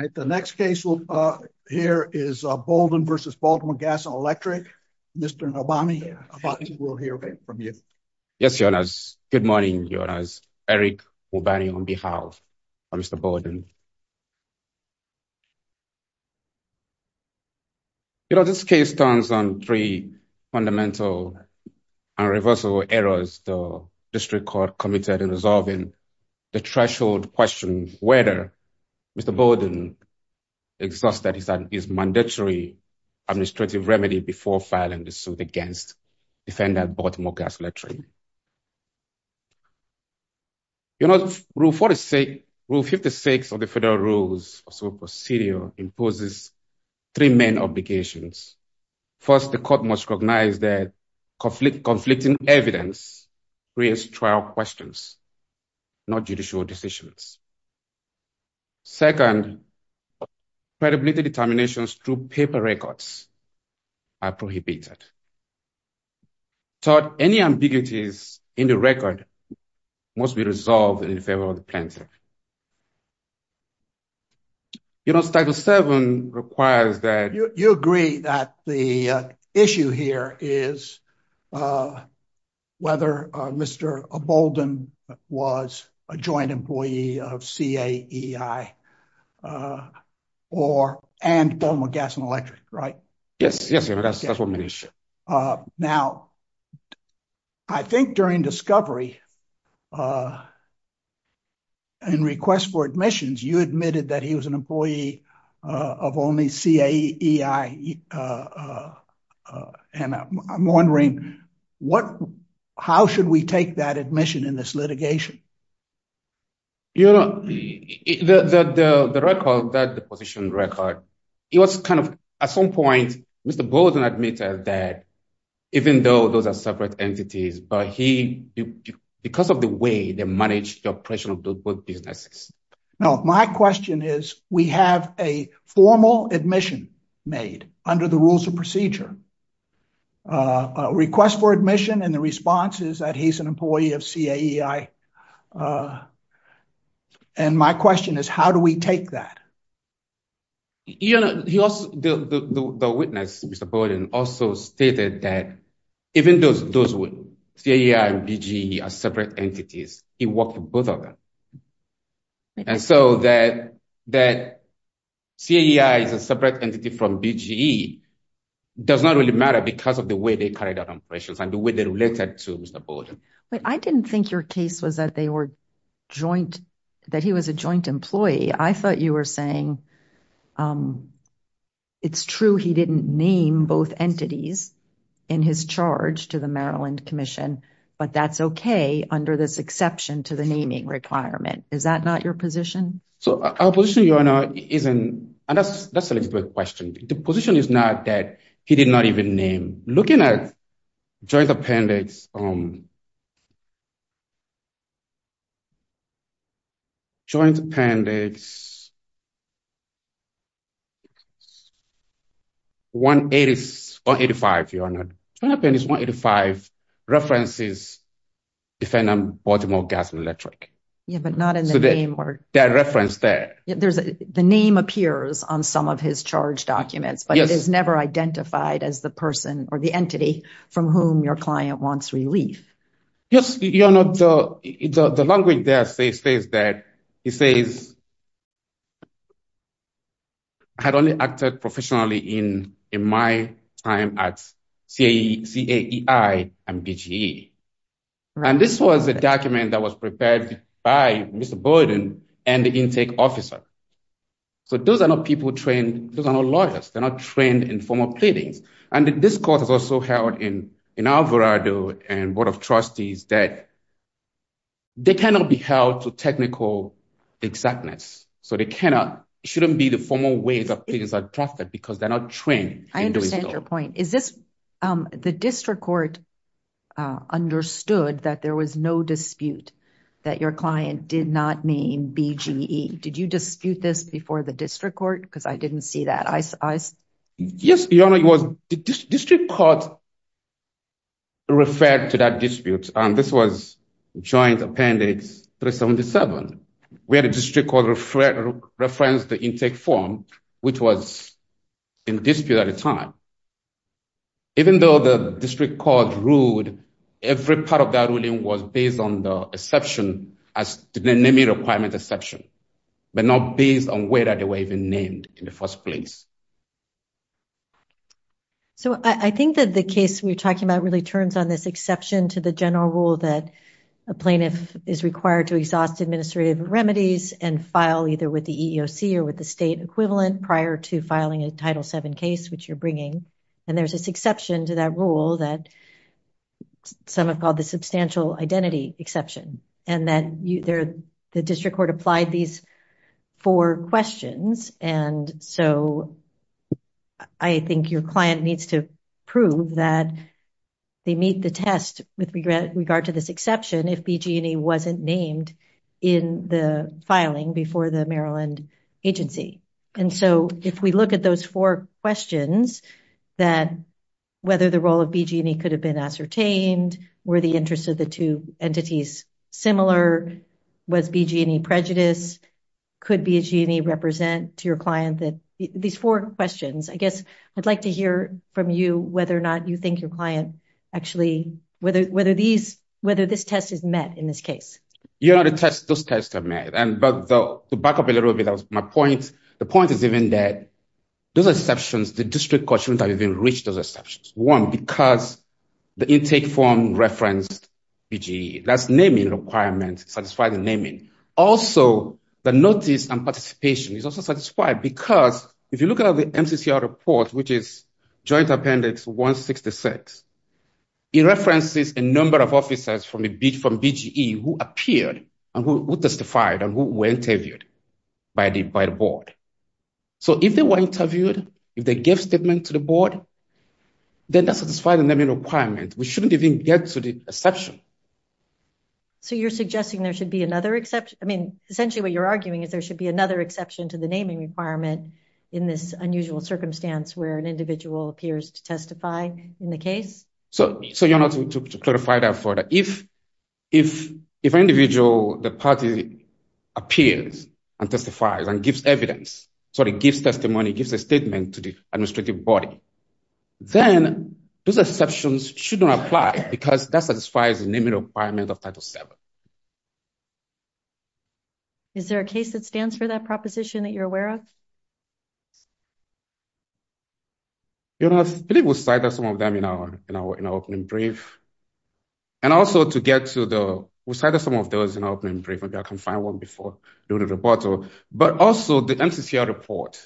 All right, the next case we'll hear is Bolden v. Baltimore Gas and Electric. Mr. Nobami, I think we'll hear from you. Yes, your honors. Good morning, your honors. Eric Obani on behalf of Mr. Bolden. You know, this case stands on three fundamental and reversal errors the district court committed in resolving the threshold question whether Mr. Bolden exhausted his mandatory administrative remedy before filing the suit against Defender Baltimore Gas and Electric. You know, Rule 56 of the Federal Rules of Civil Procedure imposes three main obligations. First, the court must recognize that conflicting evidence creates trial questions. Not judicial decisions. Second, credibility determinations through paper records are prohibited. So any ambiguities in the record must be resolved in favor of the plaintiff. You know, Statute 7 requires that... You agree that the issue here is whether Mr. Bolden was a joint employee of CAEI and Baltimore Gas and Electric, right? Yes, yes, your honors. That's what we mean. Now, I think during discovery and request for admissions, you admitted that he was an employee of only CAEI. And I'm wondering, how should we take that admission in this litigation? You know, the record, that deposition record, it was kind of... At some point, Mr. Bolden admitted that even though those are separate entities, but he... Because of the way they managed the businesses. No, my question is, we have a formal admission made under the Rules of Procedure. Request for admission and the response is that he's an employee of CAEI. And my question is, how do we take that? You know, the witness, Mr. Bolden, also stated that even though CAEI and BGE are separate entities, he worked with both of them. And so that CAEI is a separate entity from BGE does not really matter because of the way they carried out impressions and the way they related to Mr. Bolden. But I didn't think your case was that they were joint, that he was a joint employee. I thought you were saying it's true he didn't name both entities in his charge to the Maryland Commission, but that's okay under this exception to the naming requirement. Is that not your position? So our position, Your Honor, isn't... And that's a legitimate question. The position is not that he did not even name. Looking at Joint Appendix... Joint Appendix 185, Your Honor. Joint Appendix 185 references defendant Baltimore Gas and Electric. Yeah, but not in the name or... That reference there. The name appears on some of his charge documents, but it is never identified as the person or the entity from whom your client wants relief. Yes, Your Honor. The language there says that he had only acted professionally in my time at CAEI and BGE. And this was a document that was prepared by Mr. Bolden and the intake officer. So those are not people trained, those are not lawyers, they're not trained in formal pleadings. And this court has also held in Alvarado and Board of Trustees that they cannot be held to technical exactness. So they cannot... Shouldn't be the formal ways of things are drafted because they're not trained. I understand your point. Is this... The district court understood that there was no dispute that your client did not name BGE. Did you dispute this before the district court? Because I didn't see that. Yes, Your Honor. The district court referred to that dispute and this was joint appendix 377, where the district court referenced the intake form, which was in dispute at the time. Even though the district court ruled every part of that ruling was based on the exception as the naming requirement exception, but not based on whether they were even named in the first place. So I think that the case we're talking about really turns on this exception to the general rule that a plaintiff is required to exhaust administrative remedies and file either with the EEOC or with the state equivalent prior to filing a Title VII case, which you're bringing. And there's this exception to that rule that some have called the substantial identity exception, and that the district court applied these four questions. And so I think your client needs to prove that they meet the test with regard to this exception if BGE wasn't named in the filing before the Maryland agency. And so if we look at those four questions, that whether the role of BGE could have been ascertained, were the interests of the two entities similar, was BGE prejudiced, could BGE represent to your client, these four questions, I guess I'd like to hear from you whether or not you think your client actually, whether this test is met in this case. Yeah, those tests are met. But to back up a little bit, that was my point. The point is even that those exceptions, the district court shouldn't have even reached those exceptions. One, because the intake form referenced BGE. That's naming requirements, satisfying naming. Also, the notice and participation is also satisfied because if you look at the MCCR report, which is Joint Appendix 166, it references a number of officers from BGE who appeared and who testified and who were interviewed by the board. So if they were interviewed, if they gave statement to the board, they're not satisfying the naming requirement. We shouldn't even get to the exception. So you're suggesting there should be another exception? I mean, essentially what you're arguing is there should be another exception to the naming requirement in this unusual circumstance where an individual appears to testify in the case? So you're not to clarify that further. If an individual, the party, appears and testifies and gives evidence, sorry, gives testimony, gives a statement to the administrative body, then those exceptions shouldn't apply because that satisfies the naming requirement of Title VII. Is there a case that stands for that proposition that you're aware of? You know, I believe we cited some of them in our opening brief. And also to get to the, we cited some of those in our opening brief. Maybe I can find one before doing the report. But also the MCCR report,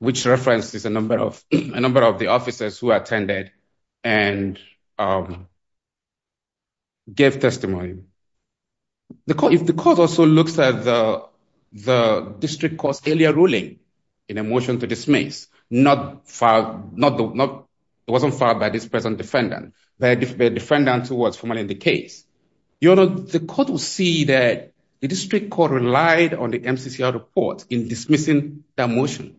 which references a number of the officers who attended and gave testimony. If the court also looks at the district court's earlier ruling in a motion to dismiss, it wasn't filed by this present defendant, but a defendant who was formerly in the case, the court will see that the district court relied on the MCCR report in dismissing that motion.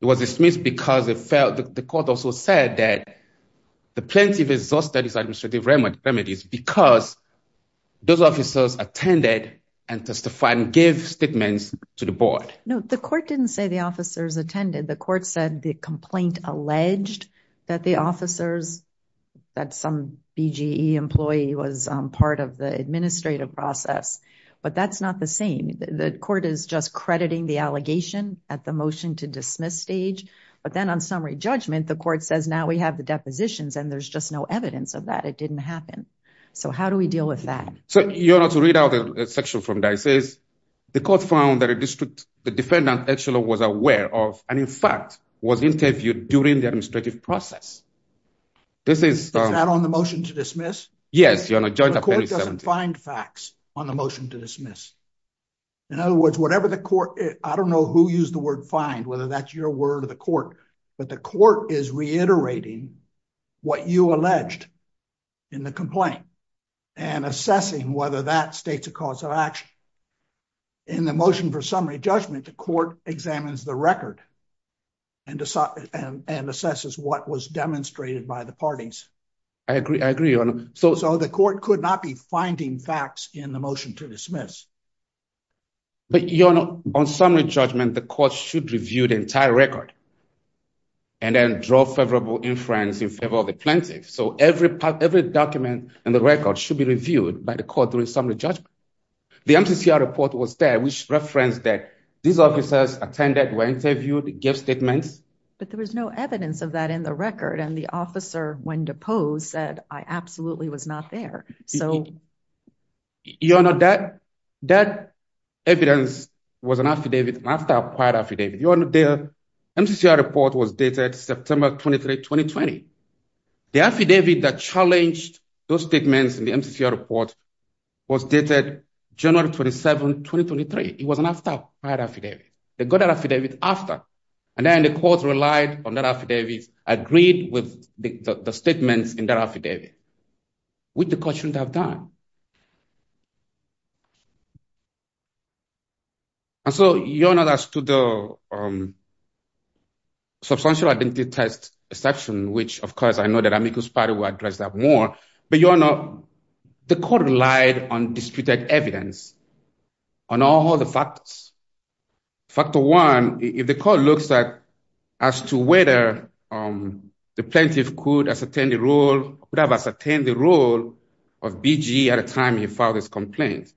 It was dismissed because the court also said that the plaintiff exhausted his administrative remedies because those officers attended and testified and gave statements to the board. No, the court didn't say the officers attended. The court said the complaint alleged that the officers, that some BGE employee was part of the administrative process. But that's not the same. The court is just crediting the allegation at the motion to dismiss stage. But then on summary judgment, the court says, now we have the depositions and there's just no evidence of that. It didn't happen. So how do we deal with that? So, you know, to read out a section from that, it says the court found that the defendant actually was aware of, and in fact, was interviewed during the administrative process. This is- Is that on the motion to dismiss? Yes. The court doesn't find facts on the motion to dismiss. In other words, whatever the court- I don't know who used the word find, whether that's your word or the court, but the court is reiterating what you alleged in the complaint and assessing whether that states a cause of action. In the motion for summary judgment, the court examines the record and assesses what was demonstrated by the parties. I agree. I agree, Your Honor. So the court could not be finding facts in the motion to dismiss. But, Your Honor, on summary judgment, the court should review the entire record and then draw favorable inference in favor of the plaintiff. So every document in the record should be reviewed by the court during summary judgment. The MCCR report was there, which referenced that these officers attended, were interviewed, gave statements. But there was no evidence of that in the record. And the officer, when deposed, said, I absolutely was not there. So- Your Honor, that evidence was an affidavit, an after-acquired affidavit. Your Honor, MCCR report was dated September 23, 2020. The affidavit that challenged those statements in the MCCR report was dated January 27, 2023. It was an after-acquired affidavit. They got that affidavit after. And then the court relied on that affidavit, agreed with the statements in that affidavit, which the court shouldn't have done. And so, Your Honor, as to the substantial identity theft exception, which, of course, I know that Amiko's party will address that more. But, Your Honor, the court relied on disputed evidence on all the factors. Factor one, if the court looks at as to whether the plaintiff could ascertain the role of BGE at a time he filed his complaint.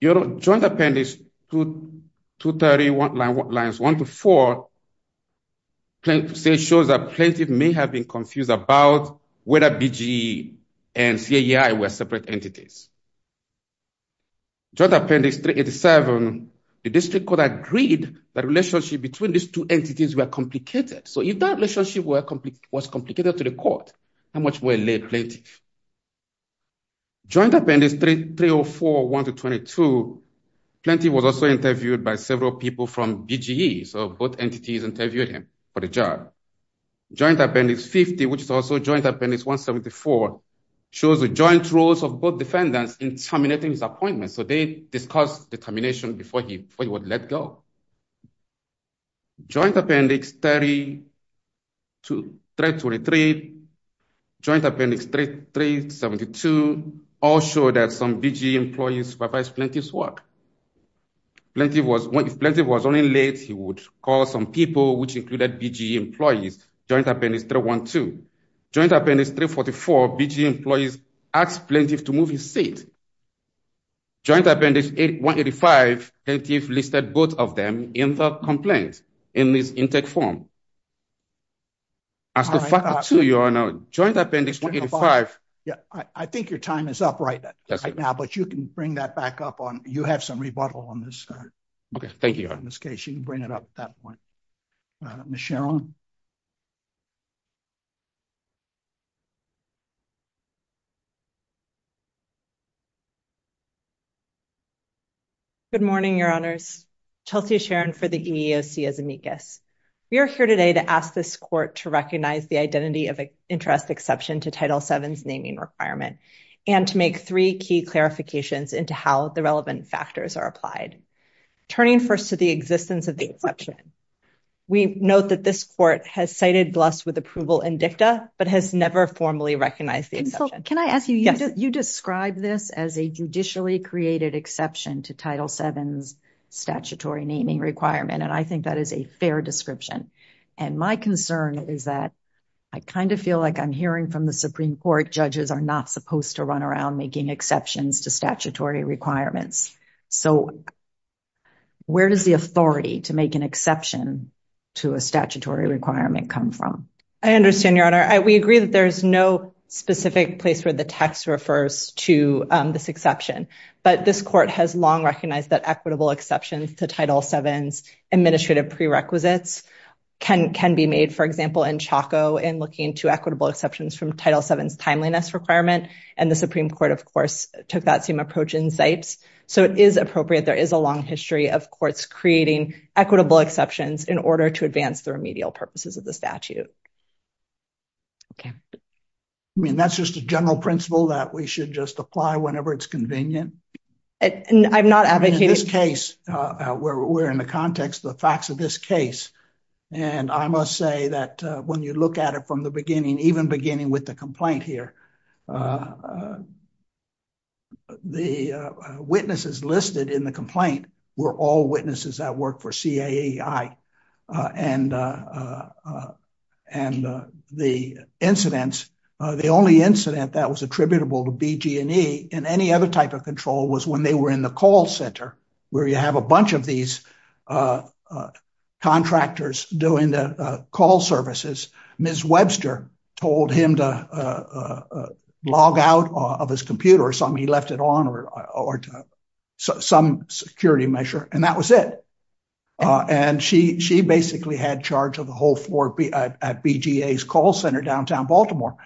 Your Honor, Joint Appendix 231 lines 1 to 4 shows that plaintiff may have been confused about whether BGE and CAEI were separate entities. Joint Appendix 387, the district court agreed that relationship between these two entities were complicated. So, if that relationship was complicated to the court, how much more late plaintiff? Joint Appendix 304, 1 to 22, plaintiff was also interviewed by several people from BGE. So, both entities interviewed him for the job. Joint Appendix 50, which is also Joint Appendix 174, shows the joint roles of both defendants in terminating his appointment. So, they discussed determination before he would let go. Joint Appendix 32, Joint Appendix 372, all show that some BGE employees supervised plaintiff's work. If plaintiff was running late, he would call some people, which included BGE employees. Joint Appendix 312, Joint Appendix 185, plaintiff listed both of them in the complaint in this intake form. As to FACA 2, Your Honor, Joint Appendix 285... I think your time is up right now, but you can bring that back up. You have some rebuttal on Okay. Thank you, Your Honor. In this case, you can bring it up at that point. Ms. Sharon? Good morning, Your Honors. Chelsea Sharon for the EEOC as amicus. We are here today to ask this court to recognize the identity of interest exception to Title VII's naming requirement and to make three key clarifications into how the relevant factors are applied. Turning first to the existence of the exception, we note that this court has cited Bluss with approval in dicta, but has never formally recognized the exception. Can I ask you, you described this as a judicially created exception to Title VII's statutory naming requirement, and I think that is a fair description. And my concern is that I kind of feel like I'm hearing from the Supreme Court, judges are not supposed to run around making exceptions to statutory requirements. So where does the authority to make an exception to a statutory requirement come from? I understand, Your Honor. We agree that there's no specific place where the text refers to this exception, but this court has long recognized that equitable exceptions to Title VII's administrative prerequisites can be made, for example, in Chaco in looking to equitable exceptions from Title VII's timeliness requirement, and the Supreme Court, of course, took that same approach in Zipes. So it is appropriate, there is a long history of courts creating equitable exceptions in order to advance the remedial purposes of the statute. Okay. I mean, that's just a general principle that we should just apply whenever it's convenient? I'm not advocating- In this case, we're in the context of the facts of this case, and I must say that when you look at it from the beginning, even beginning with the complaint here, the witnesses listed in the complaint were all witnesses that worked for CAEI, and the incidents, the only incident that was attributable to BG&E in any other type of control was when they were in the call center, where you have a bunch of these contractors doing the call services. Ms. Webster told him to log out of his computer or something, he left it on or some security measure, and that was it. And she basically had charge of the whole at BGA's call center, downtown Baltimore.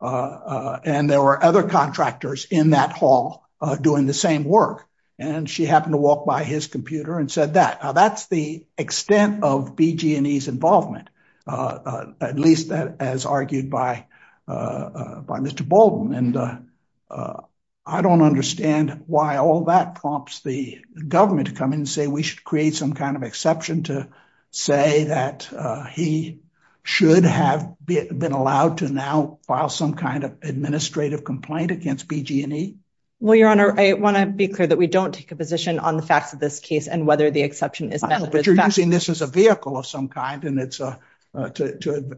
And there were other contractors in that hall doing the same work. And she happened to walk by his computer and said that. Now, that's the extent of BG&E's involvement, at least as argued by Mr. Baldwin. And I don't understand why all that prompts the government to come in and say we should create some kind of exception to say that should have been allowed to now file some kind of administrative complaint against BG&E. Well, your honor, I want to be clear that we don't take a position on the facts of this case and whether the exception is valid. But you're using this as a vehicle of some kind and it's to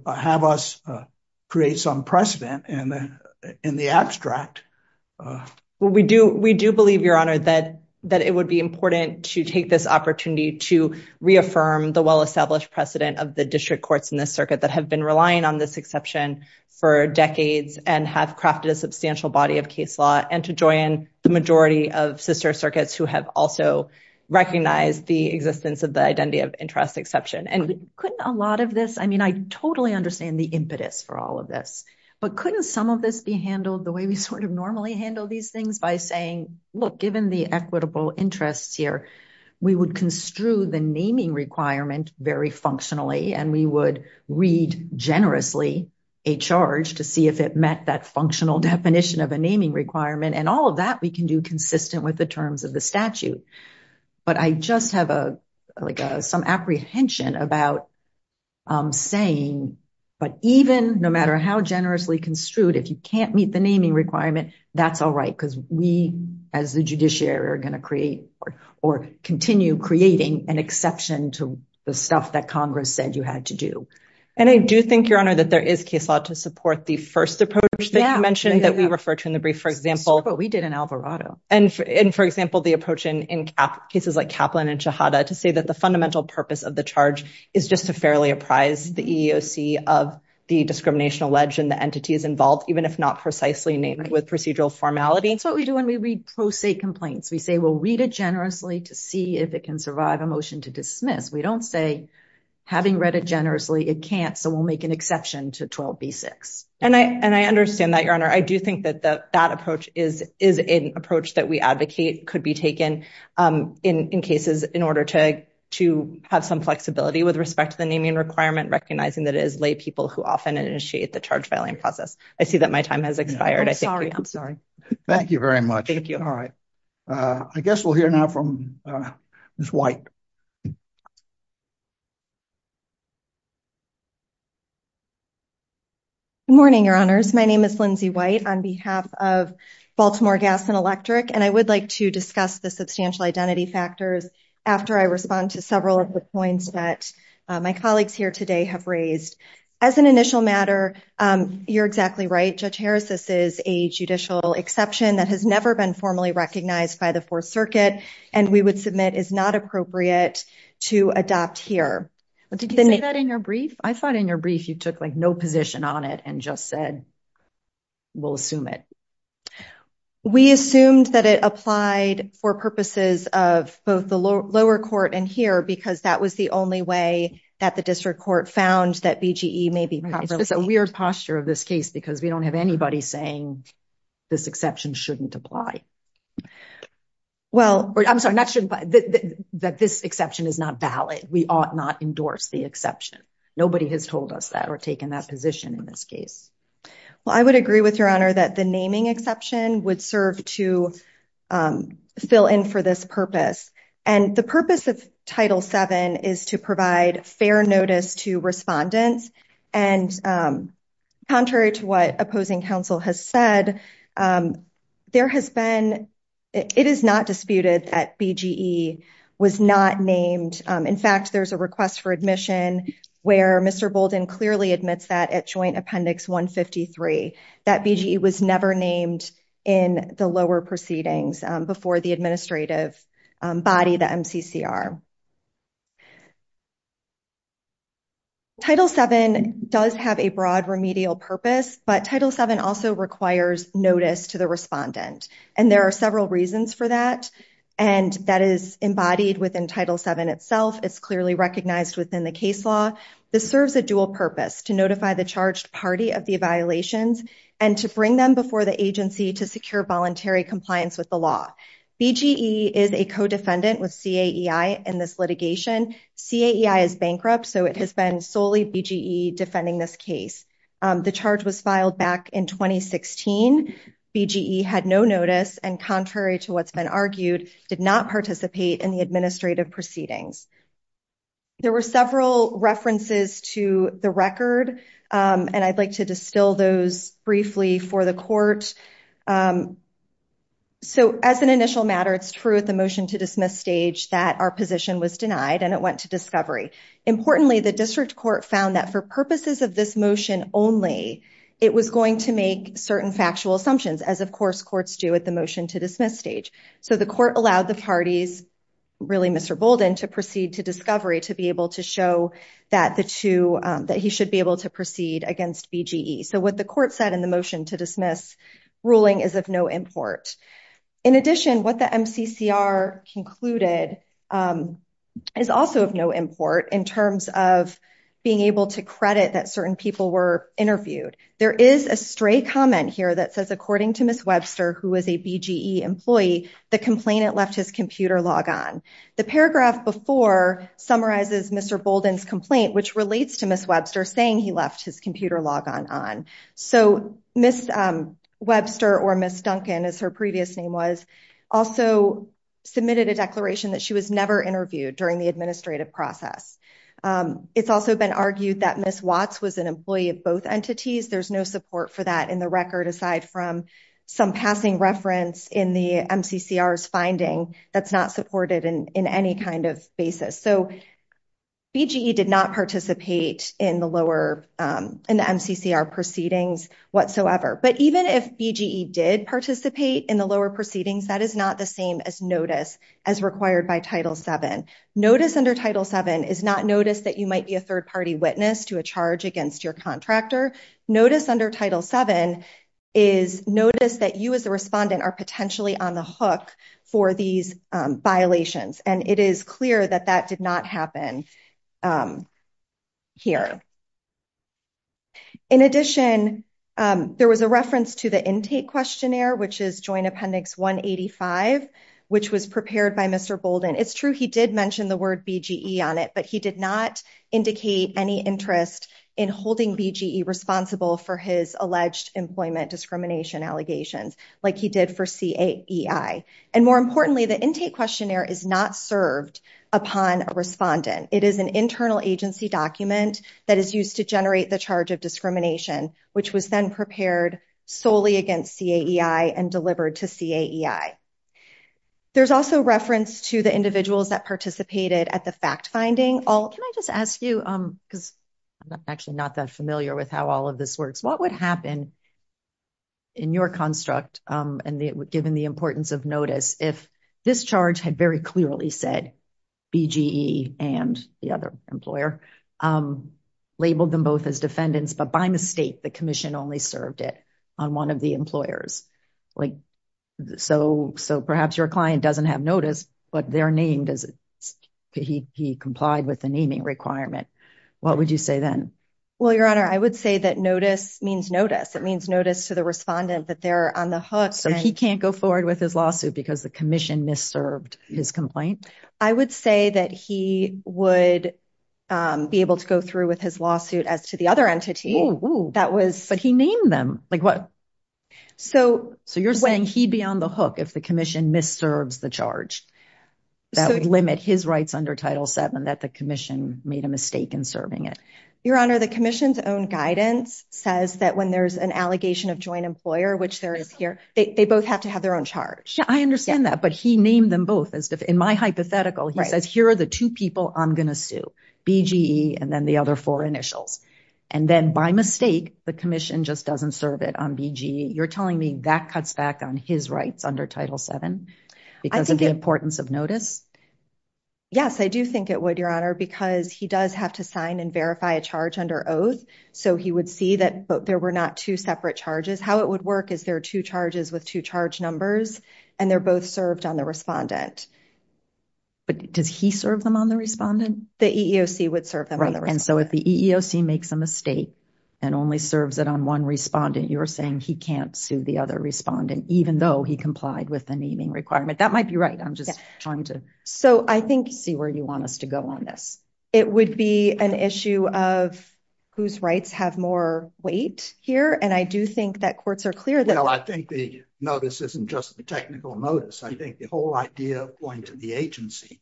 have us create some precedent in the abstract. Well, we do believe your honor that it would be important to take this opportunity to reaffirm the well-established precedent of the district courts in this circuit that have been relying on this exception for decades and have crafted a substantial body of case law and to join the majority of sister circuits who have also recognized the existence of the identity of interest exception. And couldn't a lot of this, I mean, I totally understand the impetus for all of this, but couldn't some of this be handled the way we sort of normally handle these things by saying, look, given the equitable interests here, we would construe the naming requirement very functionally and we would read generously a charge to see if it met that functional definition of a naming requirement. And all of that we can do consistent with the terms of the statute. But I just have like some apprehension about saying, but even no matter how generously construed, if you can't meet the naming requirement, that's all right because we as the judiciary are going to create or continue creating an exception to the stuff that Congress said you had to do. And I do think your honor that there is case law to support the first approach that you mentioned that we refer to in the brief, for example, what we did in Alvarado and for example, the approach in, in cases like Kaplan and Shahada to say that the fundamental purpose of the charge is just to fairly apprise the EEOC of the discriminational wedge and the entities involved, even if not precisely named with procedural formality. And so what we do when we read pro se complaints, we say, we'll read it generously to see if it can survive a motion to dismiss. We don't say having read it generously, it can't. So we'll make an exception to 12B6. And I, and I understand that your honor. I do think that the, that approach is, is an approach that we advocate could be taken in, in cases in order to, to have some flexibility with respect to the naming requirement, recognizing that it is lay people who often initiate the charge filing process. I see that my time has expired. I'm sorry. Thank you very much. All right. I guess we'll hear now from Ms. White. Good morning, your honors. My name is Lindsay White on behalf of Baltimore Gas and Electric. And I would like to discuss the substantial identity factors after I respond to several of the points that my colleagues here today have raised. As an initial matter, you're exactly right. Judge Harris, this is a judicial exception that has never been formally recognized by the fourth circuit. And we would submit is not appropriate to adopt here. Did you say that in your brief? I thought in your brief, you took like no position on it and just said, we'll assume it. We assumed that it applied for purposes of both the lower court and here, because that was the only way that the district court found that BGE may be properly named. It's just a weird posture of this case, because we don't have anybody saying this exception shouldn't apply. Well, I'm sorry, not shouldn't, but that this exception is not valid. We ought not endorse the exception. Nobody has told us that or taken that position in this case. Well, I would agree with your honor, that the naming exception would serve to fill in for this purpose. And the purpose of Title VII is to provide fair notice to respondents. And contrary to what opposing counsel has said, there has been, it is not disputed that BGE was not named. In fact, there's a request for admission where Mr. Bolden clearly admits that Joint Appendix 153, that BGE was never named in the lower proceedings before the administrative body, the MCCR. Title VII does have a broad remedial purpose, but Title VII also requires notice to the respondent. And there are several reasons for that. And that is embodied within Title VII itself. It's clearly recognized within the case law. This serves a dual purpose to notify the charged party of the violations and to bring them before the agency to secure voluntary compliance with the law. BGE is a co-defendant with CAEI in this litigation. CAEI is bankrupt, so it has been solely BGE defending this case. The charge was filed back in 2016. BGE had no notice and contrary to what's been argued, did not participate in the administrative proceedings. There were several references to the record, and I'd like to distill those briefly for the court. So as an initial matter, it's true at the motion to dismiss stage that our position was denied and it went to discovery. Importantly, the district court found that for purposes of this motion only, it was going to make certain factual assumptions as of course courts do at the motion to dismiss stage. So the court allowed the parties, really Mr. Bolden to proceed to discovery to be able to show that the two, that he should be able to proceed against BGE. So what the court said in the motion to dismiss ruling is of no import. In addition, what the MCCR concluded is also of no import in terms of being able to credit that certain people were interviewed. There is a stray comment here that says, according to Ms. Webster, who was a BGE employee, the complainant left his computer logon. The paragraph before summarizes Mr. Bolden's complaint, which relates to Ms. Webster saying he left his computer logon on. So Ms. Webster or Ms. Duncan, as her previous name was, also submitted a declaration that she was never interviewed during the administrative process. It's also been argued that Ms. Watts was an employee of both entities. There's no support for that in the record aside from some passing reference in the MCCR's finding that's not supported in any kind of basis. So BGE did not participate in the lower, in the MCCR proceedings whatsoever. But even if BGE did participate in the lower proceedings, that is not the same as notice as required by Title VII. Notice under Title VII is not notice that you might be a third party witness to a charge against your contractor. Notice under Title VII is notice that you as the respondent are potentially on the hook for these violations. And it is clear that that did not happen here. In addition, there was a reference to the intake questionnaire, which is Joint Appendix 185, which was prepared by Mr. Bolden. It's true he did mention the word BGE on it, but he did not indicate any interest in holding BGE responsible for his alleged employment discrimination allegations like he did for CAEI. And more importantly, the intake questionnaire is not served upon a respondent. It is an internal agency document that is used to generate the charge of discrimination, which was then prepared solely against CAEI and delivered to CAEI. There's also reference to the individuals that participated at the fact-finding. Can I just ask you, because I'm actually not that familiar with how all of this works, what would happen in your construct, and given the importance of notice, if this charge had very clearly said BGE and the other employer, labeled them both as defendants, but by mistake, the commission only served it on one of the employers? So perhaps your client doesn't have notice, but they're named as he complied with the naming requirement. What would you say then? Well, Your Honor, I would say that notice means notice. It means notice to the respondent that they're on the hook. So he can't go forward with his lawsuit because the commission misserved his complaint? I would say that he would be able to go through with his lawsuit as to the other entity. But he named them. So you're saying he'd be on the hook if the commission misserves the charge that would limit his rights under Title VII, that the commission made a mistake in serving it? Your Honor, the commission's own guidance says that when there's an allegation of joint employer, which there is here, they both have to have their own charge. I understand that, but he named them both. In my hypothetical, he says, here are the two people I'm going to sue, BGE, and then the other four initials. And then by mistake, the commission just doesn't serve it on BGE. You're telling me that cuts back on his rights under Title VII because of the importance of notice? Yes, I do think it would, Your Honor, because he does have to sign and verify a charge under oath. So he would see that there were not two separate charges. How it would work is there are two charges with two charge numbers, and they're both served on the respondent. But does he serve them on the respondent? The EEOC would serve them on the respondent. And so if the EEOC makes a mistake and only serves it on one respondent, you're saying he can't sue the other respondent, even though he complied with the naming requirement. That might be right. I'm just trying to see where you want us to go on this. It would be an issue of whose rights have more weight here. And I do think that courts are clear that... Well, I think the just the technical notice. I think the whole idea of going to the agency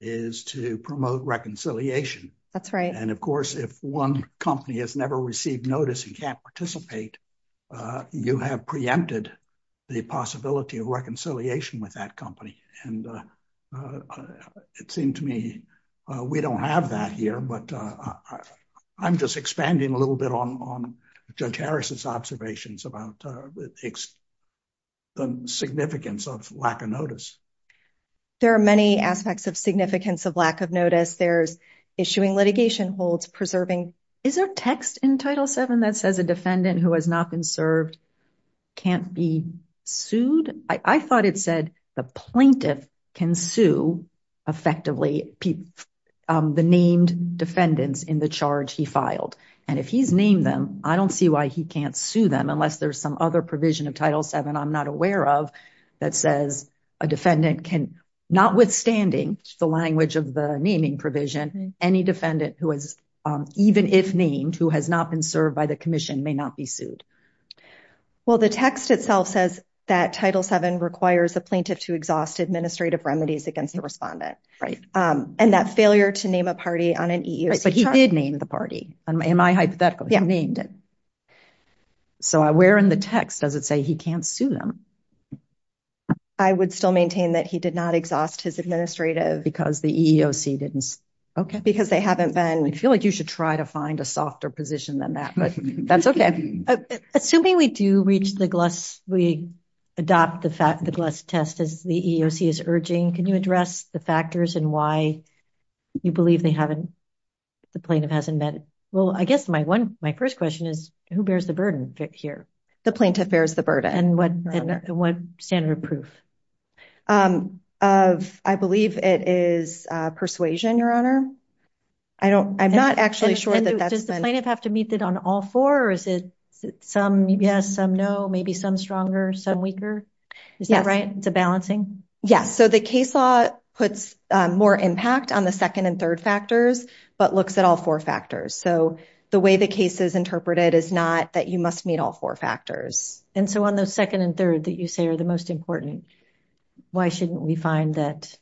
is to promote reconciliation. That's right. And of course, if one company has never received notice and can't participate, you have preempted the possibility of reconciliation with that company. And it seemed to me we don't have that here, but I'm just expanding a little bit on Judge Harris's observations about the significance of lack of notice. There are many aspects of significance of lack of notice. There's issuing litigation holds, preserving... Is there a text in Title VII that says a defendant who has not been served can't be sued? I thought it said the plaintiff can sue effectively the named defendants in the charge he filed. And if he's named them, I don't see why he can't sue them unless there's some other provision of Title VII I'm not aware of that says a defendant can, notwithstanding the language of the naming provision, any defendant who has, even if named, who has not been served by the commission may not be sued. Well, the text itself says that Title VII requires a plaintiff to exhaust administrative remedies against the respondent. Right. And that failure to name a party on an EEOC charge... Am I hypothetical? You named it. So where in the text does it say he can't sue them? I would still maintain that he did not exhaust his administrative... Because the EEOC didn't... Okay. Because they haven't been... I feel like you should try to find a softer position than that, but that's okay. Assuming we do reach the GLUS, we adopt the GLUS test as the EEOC is urging, can you address the factors and why you believe they haven't... The plaintiff hasn't met... Well, I guess my first question is, who bears the burden here? The plaintiff bears the burden. And what standard of proof? I believe it is persuasion, Your Honor. I'm not actually sure that that's been... Does the plaintiff have to meet it on all four or is it some yes, some no, maybe some stronger, some weaker? Is that right? It's a balancing? Yes. So the case law puts more impact on the second and third factors, but looks at all four factors. So the way the case is interpreted is not that you must meet all four factors. And so on those second and third that you say are the most important, why shouldn't we find that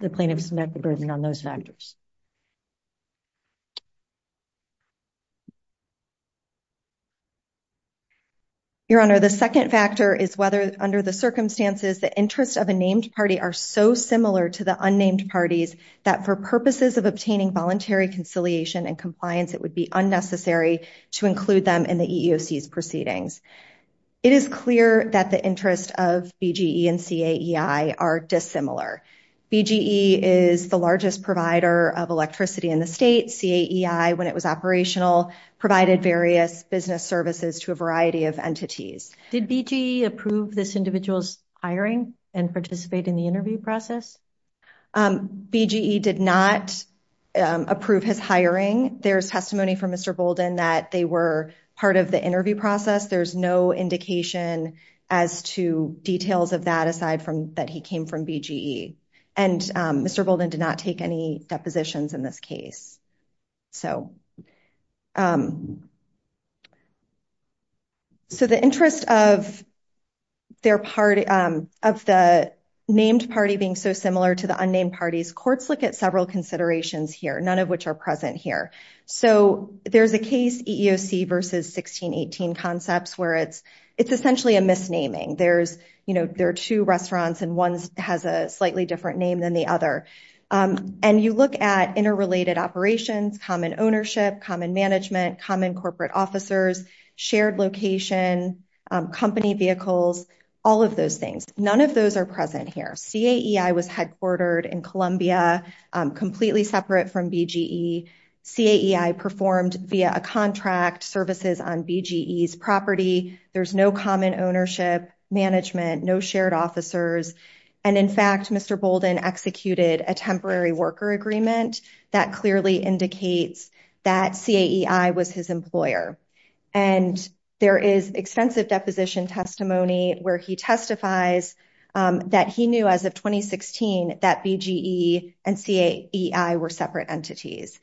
the plaintiff's met the burden on those factors? Your Honor, the second factor is whether under the circumstances, the interest of a named party are so similar to the unnamed parties that for purposes of obtaining voluntary conciliation and compliance, it would be unnecessary to include them in the EEOC's proceedings. It is clear that the interest of BGE and CAEI are dissimilar. BGE is the largest provider of electricity in the state. CAEI, when it was operational, provided various business services to a variety of entities. Did BGE approve this individual's hiring and participate in the interview process? BGE did not approve his hiring. There's testimony from Mr. Bolden that they were part of the interview process. There's no indication as to details of that aside from that he came from BGE. And Mr. Bolden did not take any depositions in this case. So the interest of the named party being so similar to the unnamed parties, courts look at several considerations here, none of which are present here. So there's a case EEOC versus 1618 concepts where it's essentially a misnaming. There are two restaurants and one has a slightly different name than the other. And you look at interrelated operations, common ownership, common management, common corporate officers, shared location, company vehicles, all of those things. None of those are present here. CAEI was headquartered in Columbia, completely separate from BGE. CAEI performed via a contract services on BGE's property. There's no common ownership, management, no shared officers. And in fact, Mr. Bolden executed a temporary worker agreement that clearly indicates that CAEI was his employer. And there is extensive deposition testimony where he testifies that he knew as of 2016, that BGE and CAEI were separate entities.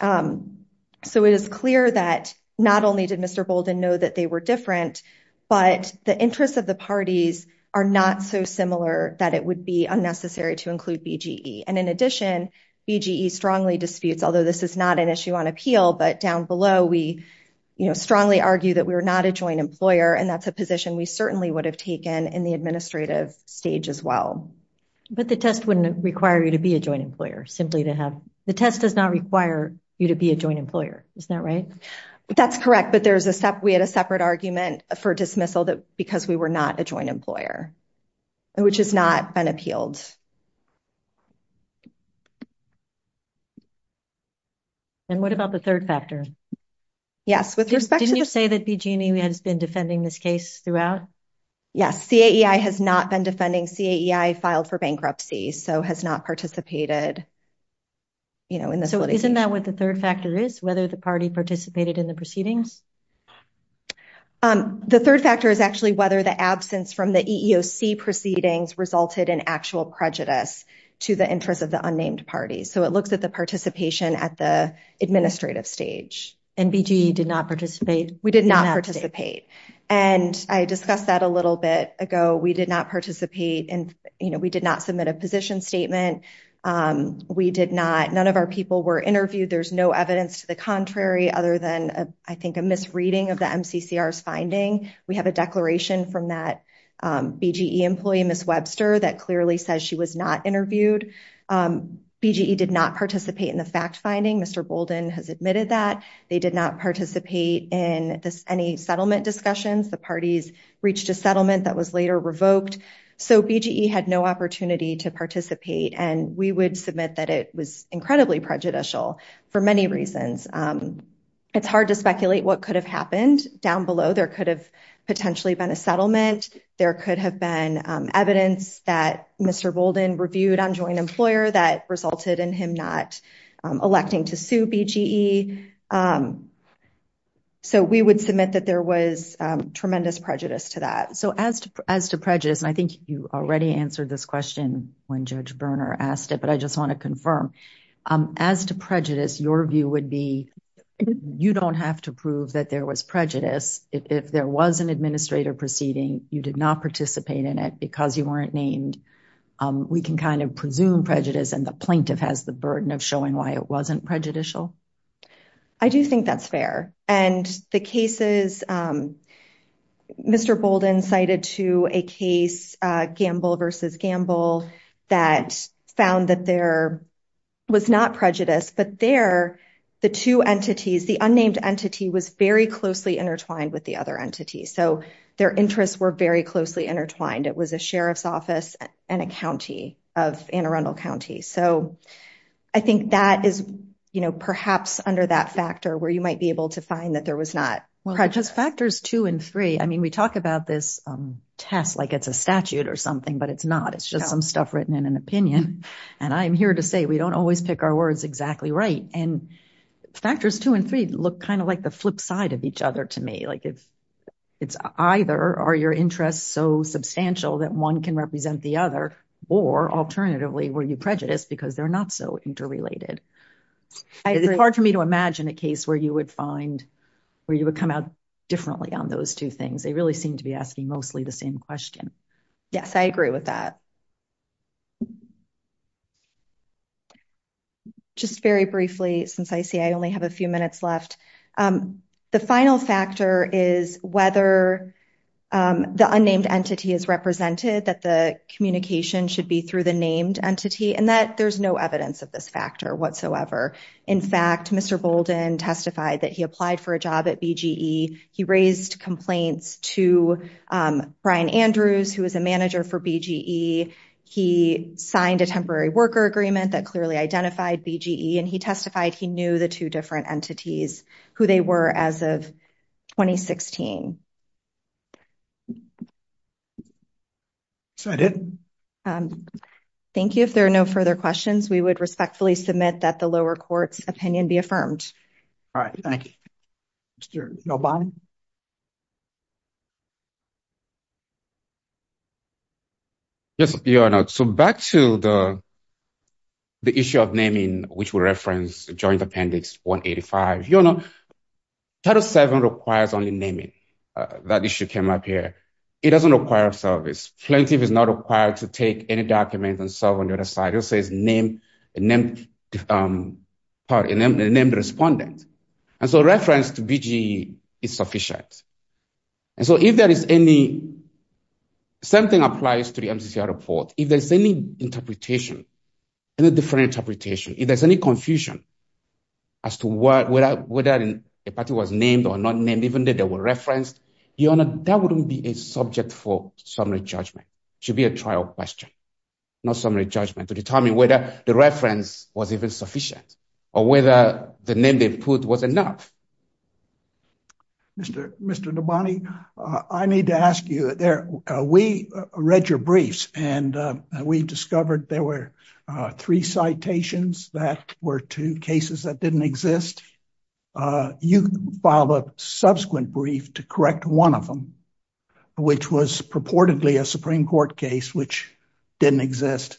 So it is clear that not only did Mr. Bolden know that they were different, but the interests of the parties are not so similar that it would be unnecessary to include BGE. And in addition, BGE strongly disputes, although this is not an issue on appeal, but down below, we strongly argue that we were not a joint employer. And that's a position we certainly would have taken in the administrative stage as well. But the test wouldn't require you to be a joint employer simply to have, the test does not require you to be a joint employer. Is that right? That's correct. But there's a step, we had a separate argument for dismissal that because we were not a joint employer, which has not been appealed. And what about the third factor? Yes, with respect to... CAEI has been defending this case throughout? Yes. CAEI has not been defending. CAEI filed for bankruptcy, so has not participated. So isn't that what the third factor is? Whether the party participated in the proceedings? The third factor is actually whether the absence from the EEOC proceedings resulted in actual prejudice to the interests of the unnamed parties. So it looks at the participation at the administrative stage. And BGE did not participate? We did not participate. And I discussed that a little bit ago. We did not participate in, you know, we did not submit a position statement. We did not, none of our people were interviewed. There's no evidence to the contrary, other than I think a misreading of the MCCR's finding. We have a declaration from that BGE employee, Ms. Webster, that clearly says she was not interviewed. BGE did not participate in the fact finding. Mr. Bolden has admitted that. They did not participate in any settlement discussions. The parties reached a settlement that was later revoked. So BGE had no opportunity to participate. And we would submit that it was incredibly prejudicial for many reasons. It's hard to speculate what could have happened. Down below, there could have potentially been a settlement. There could have been evidence that Mr. Bolden reviewed on joint employer that resulted in him not electing to sue BGE. So we would submit that there was tremendous prejudice to that. So as to prejudice, and I think you already answered this question when Judge Berner asked it, but I just want to confirm. As to prejudice, your view would be you don't have to prove that there was prejudice. If there was an administrative proceeding, you did not participate in it because you weren't named. We can kind of presume prejudice and the plaintiff has the burden of showing why it wasn't prejudicial. I do think that's fair. And the cases Mr. Bolden cited to a case, Gamble v. Gamble, that found that there was not prejudice, but there the two entities, the unnamed entity was very closely intertwined with the other entity. So their interests were very closely intertwined. It was a sheriff's office and a county of Anne Arundel County. So I think that is perhaps under that factor where you might be able to find that there was not prejudice. Well, because factors two and three, I mean, we talk about this test like it's a statute or something, but it's not. It's just some stuff written in an opinion. And I'm here to say we don't always pick our words exactly right. And factors two and three look kind of like the flip side of each other to me. Like if it's either are your interests so substantial that one can represent the other or alternatively, were you prejudiced because they're not so interrelated? It's hard for me to imagine a case where you would find, where you would come out differently on those two things. They really seem to be asking mostly the same question. Yes, I agree with that. Just very briefly, since I see I only have a few minutes left, the final factor is whether the unnamed entity is represented, that the communication should be through the named entity, and that there's no evidence of this factor whatsoever. In fact, Mr. Bolden testified that he applied for a job at BGE. He raised complaints to Brian Andrews, who was a manager for BGE. He signed a temporary worker agreement that clearly identified BGE, and he testified he knew the two different entities, who they were as of 2016. So I did. Thank you. If there are no further questions, we would respectfully submit that the lower court's opinion be affirmed. All right. Thank you. Mr. Obani. Yes, Your Honor. So back to the issue of naming, which will reference Joint Appendix 185. Your Honor, Title VII requires only naming. That issue came up here. It doesn't require a service. Plaintiff is not required to take any document and solve on the other side. It just says name, pardon, named respondent. And so reference to BGE is sufficient. And so if there is any, same thing applies to the MCCR report. If there's any interpretation, any different interpretation, if there's any confusion as to whether a party was named or not named, even if they were referenced, Your Honor, that wouldn't be a subject for summary judgment. It should be a trial question, not summary judgment, to determine whether the reference was even sufficient or whether the name they put was enough. Mr. Mr. Obani, I need to ask you there. We read your briefs and we discovered there were three citations that were two cases that didn't exist. You filed a subsequent brief to correct one of them, which was purportedly a Supreme Court case, which didn't exist.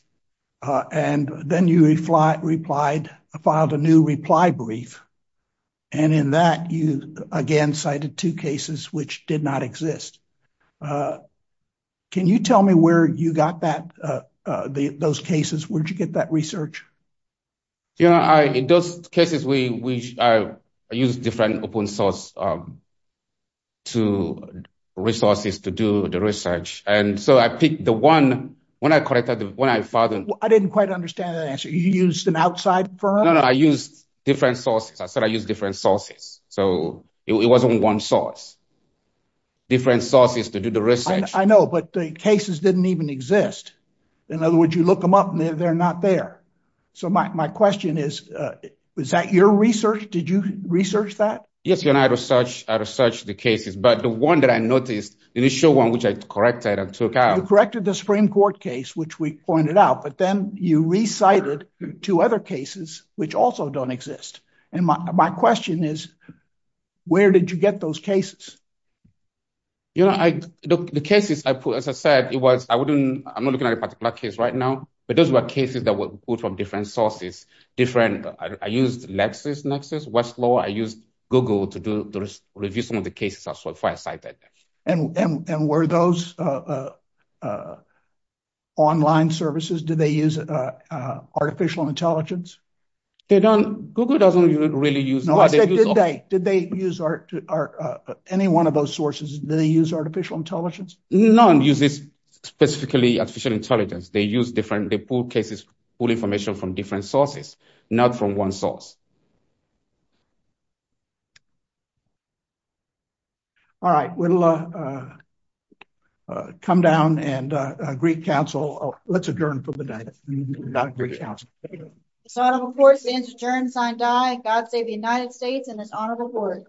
And then you replied, filed a new reply brief. And in that, you again cited two cases which did not exist. Can you tell me where you got that, those cases, where'd you get that research? Your Honor, in those cases, I used different open source to resources to do the research. And so I picked the one, when I corrected, when I filed them. I didn't quite understand that answer. You used an outside firm? No, no. I used different sources. I said, I used different sources. So it wasn't one source, different sources to do the research. I know, but the cases didn't even exist. In other words, you look them up and they're not there. So my question is, was that your research? Did you research that? Yes, Your Honor, I researched the cases, but the one that I noticed, the initial one, which I corrected and took out. You corrected the Supreme Court case, which we pointed out, but then you recited two other cases, which also don't exist. And my question is, where did you get those cases? Your Honor, the cases I put, as I said, it was, I wouldn't, I'm not looking at a particular case right now, but those were cases that were pulled from different sources, different. I used Lexis, Lexis, Westlaw. I used Google to do the review. Some of the cases are so far cited. And were those online services? Did they use artificial intelligence? They don't, Google doesn't really use. No, I said, did they, did they use any one of those sources? Did they use artificial intelligence? None uses specifically artificial intelligence. They use different, they pull cases, pull information from different sources, not from one source. All right, we'll come down and Greek council, let's adjourn for the day. It's an honor of course to adjourn, sign die, God save the United States and it's an honor to report.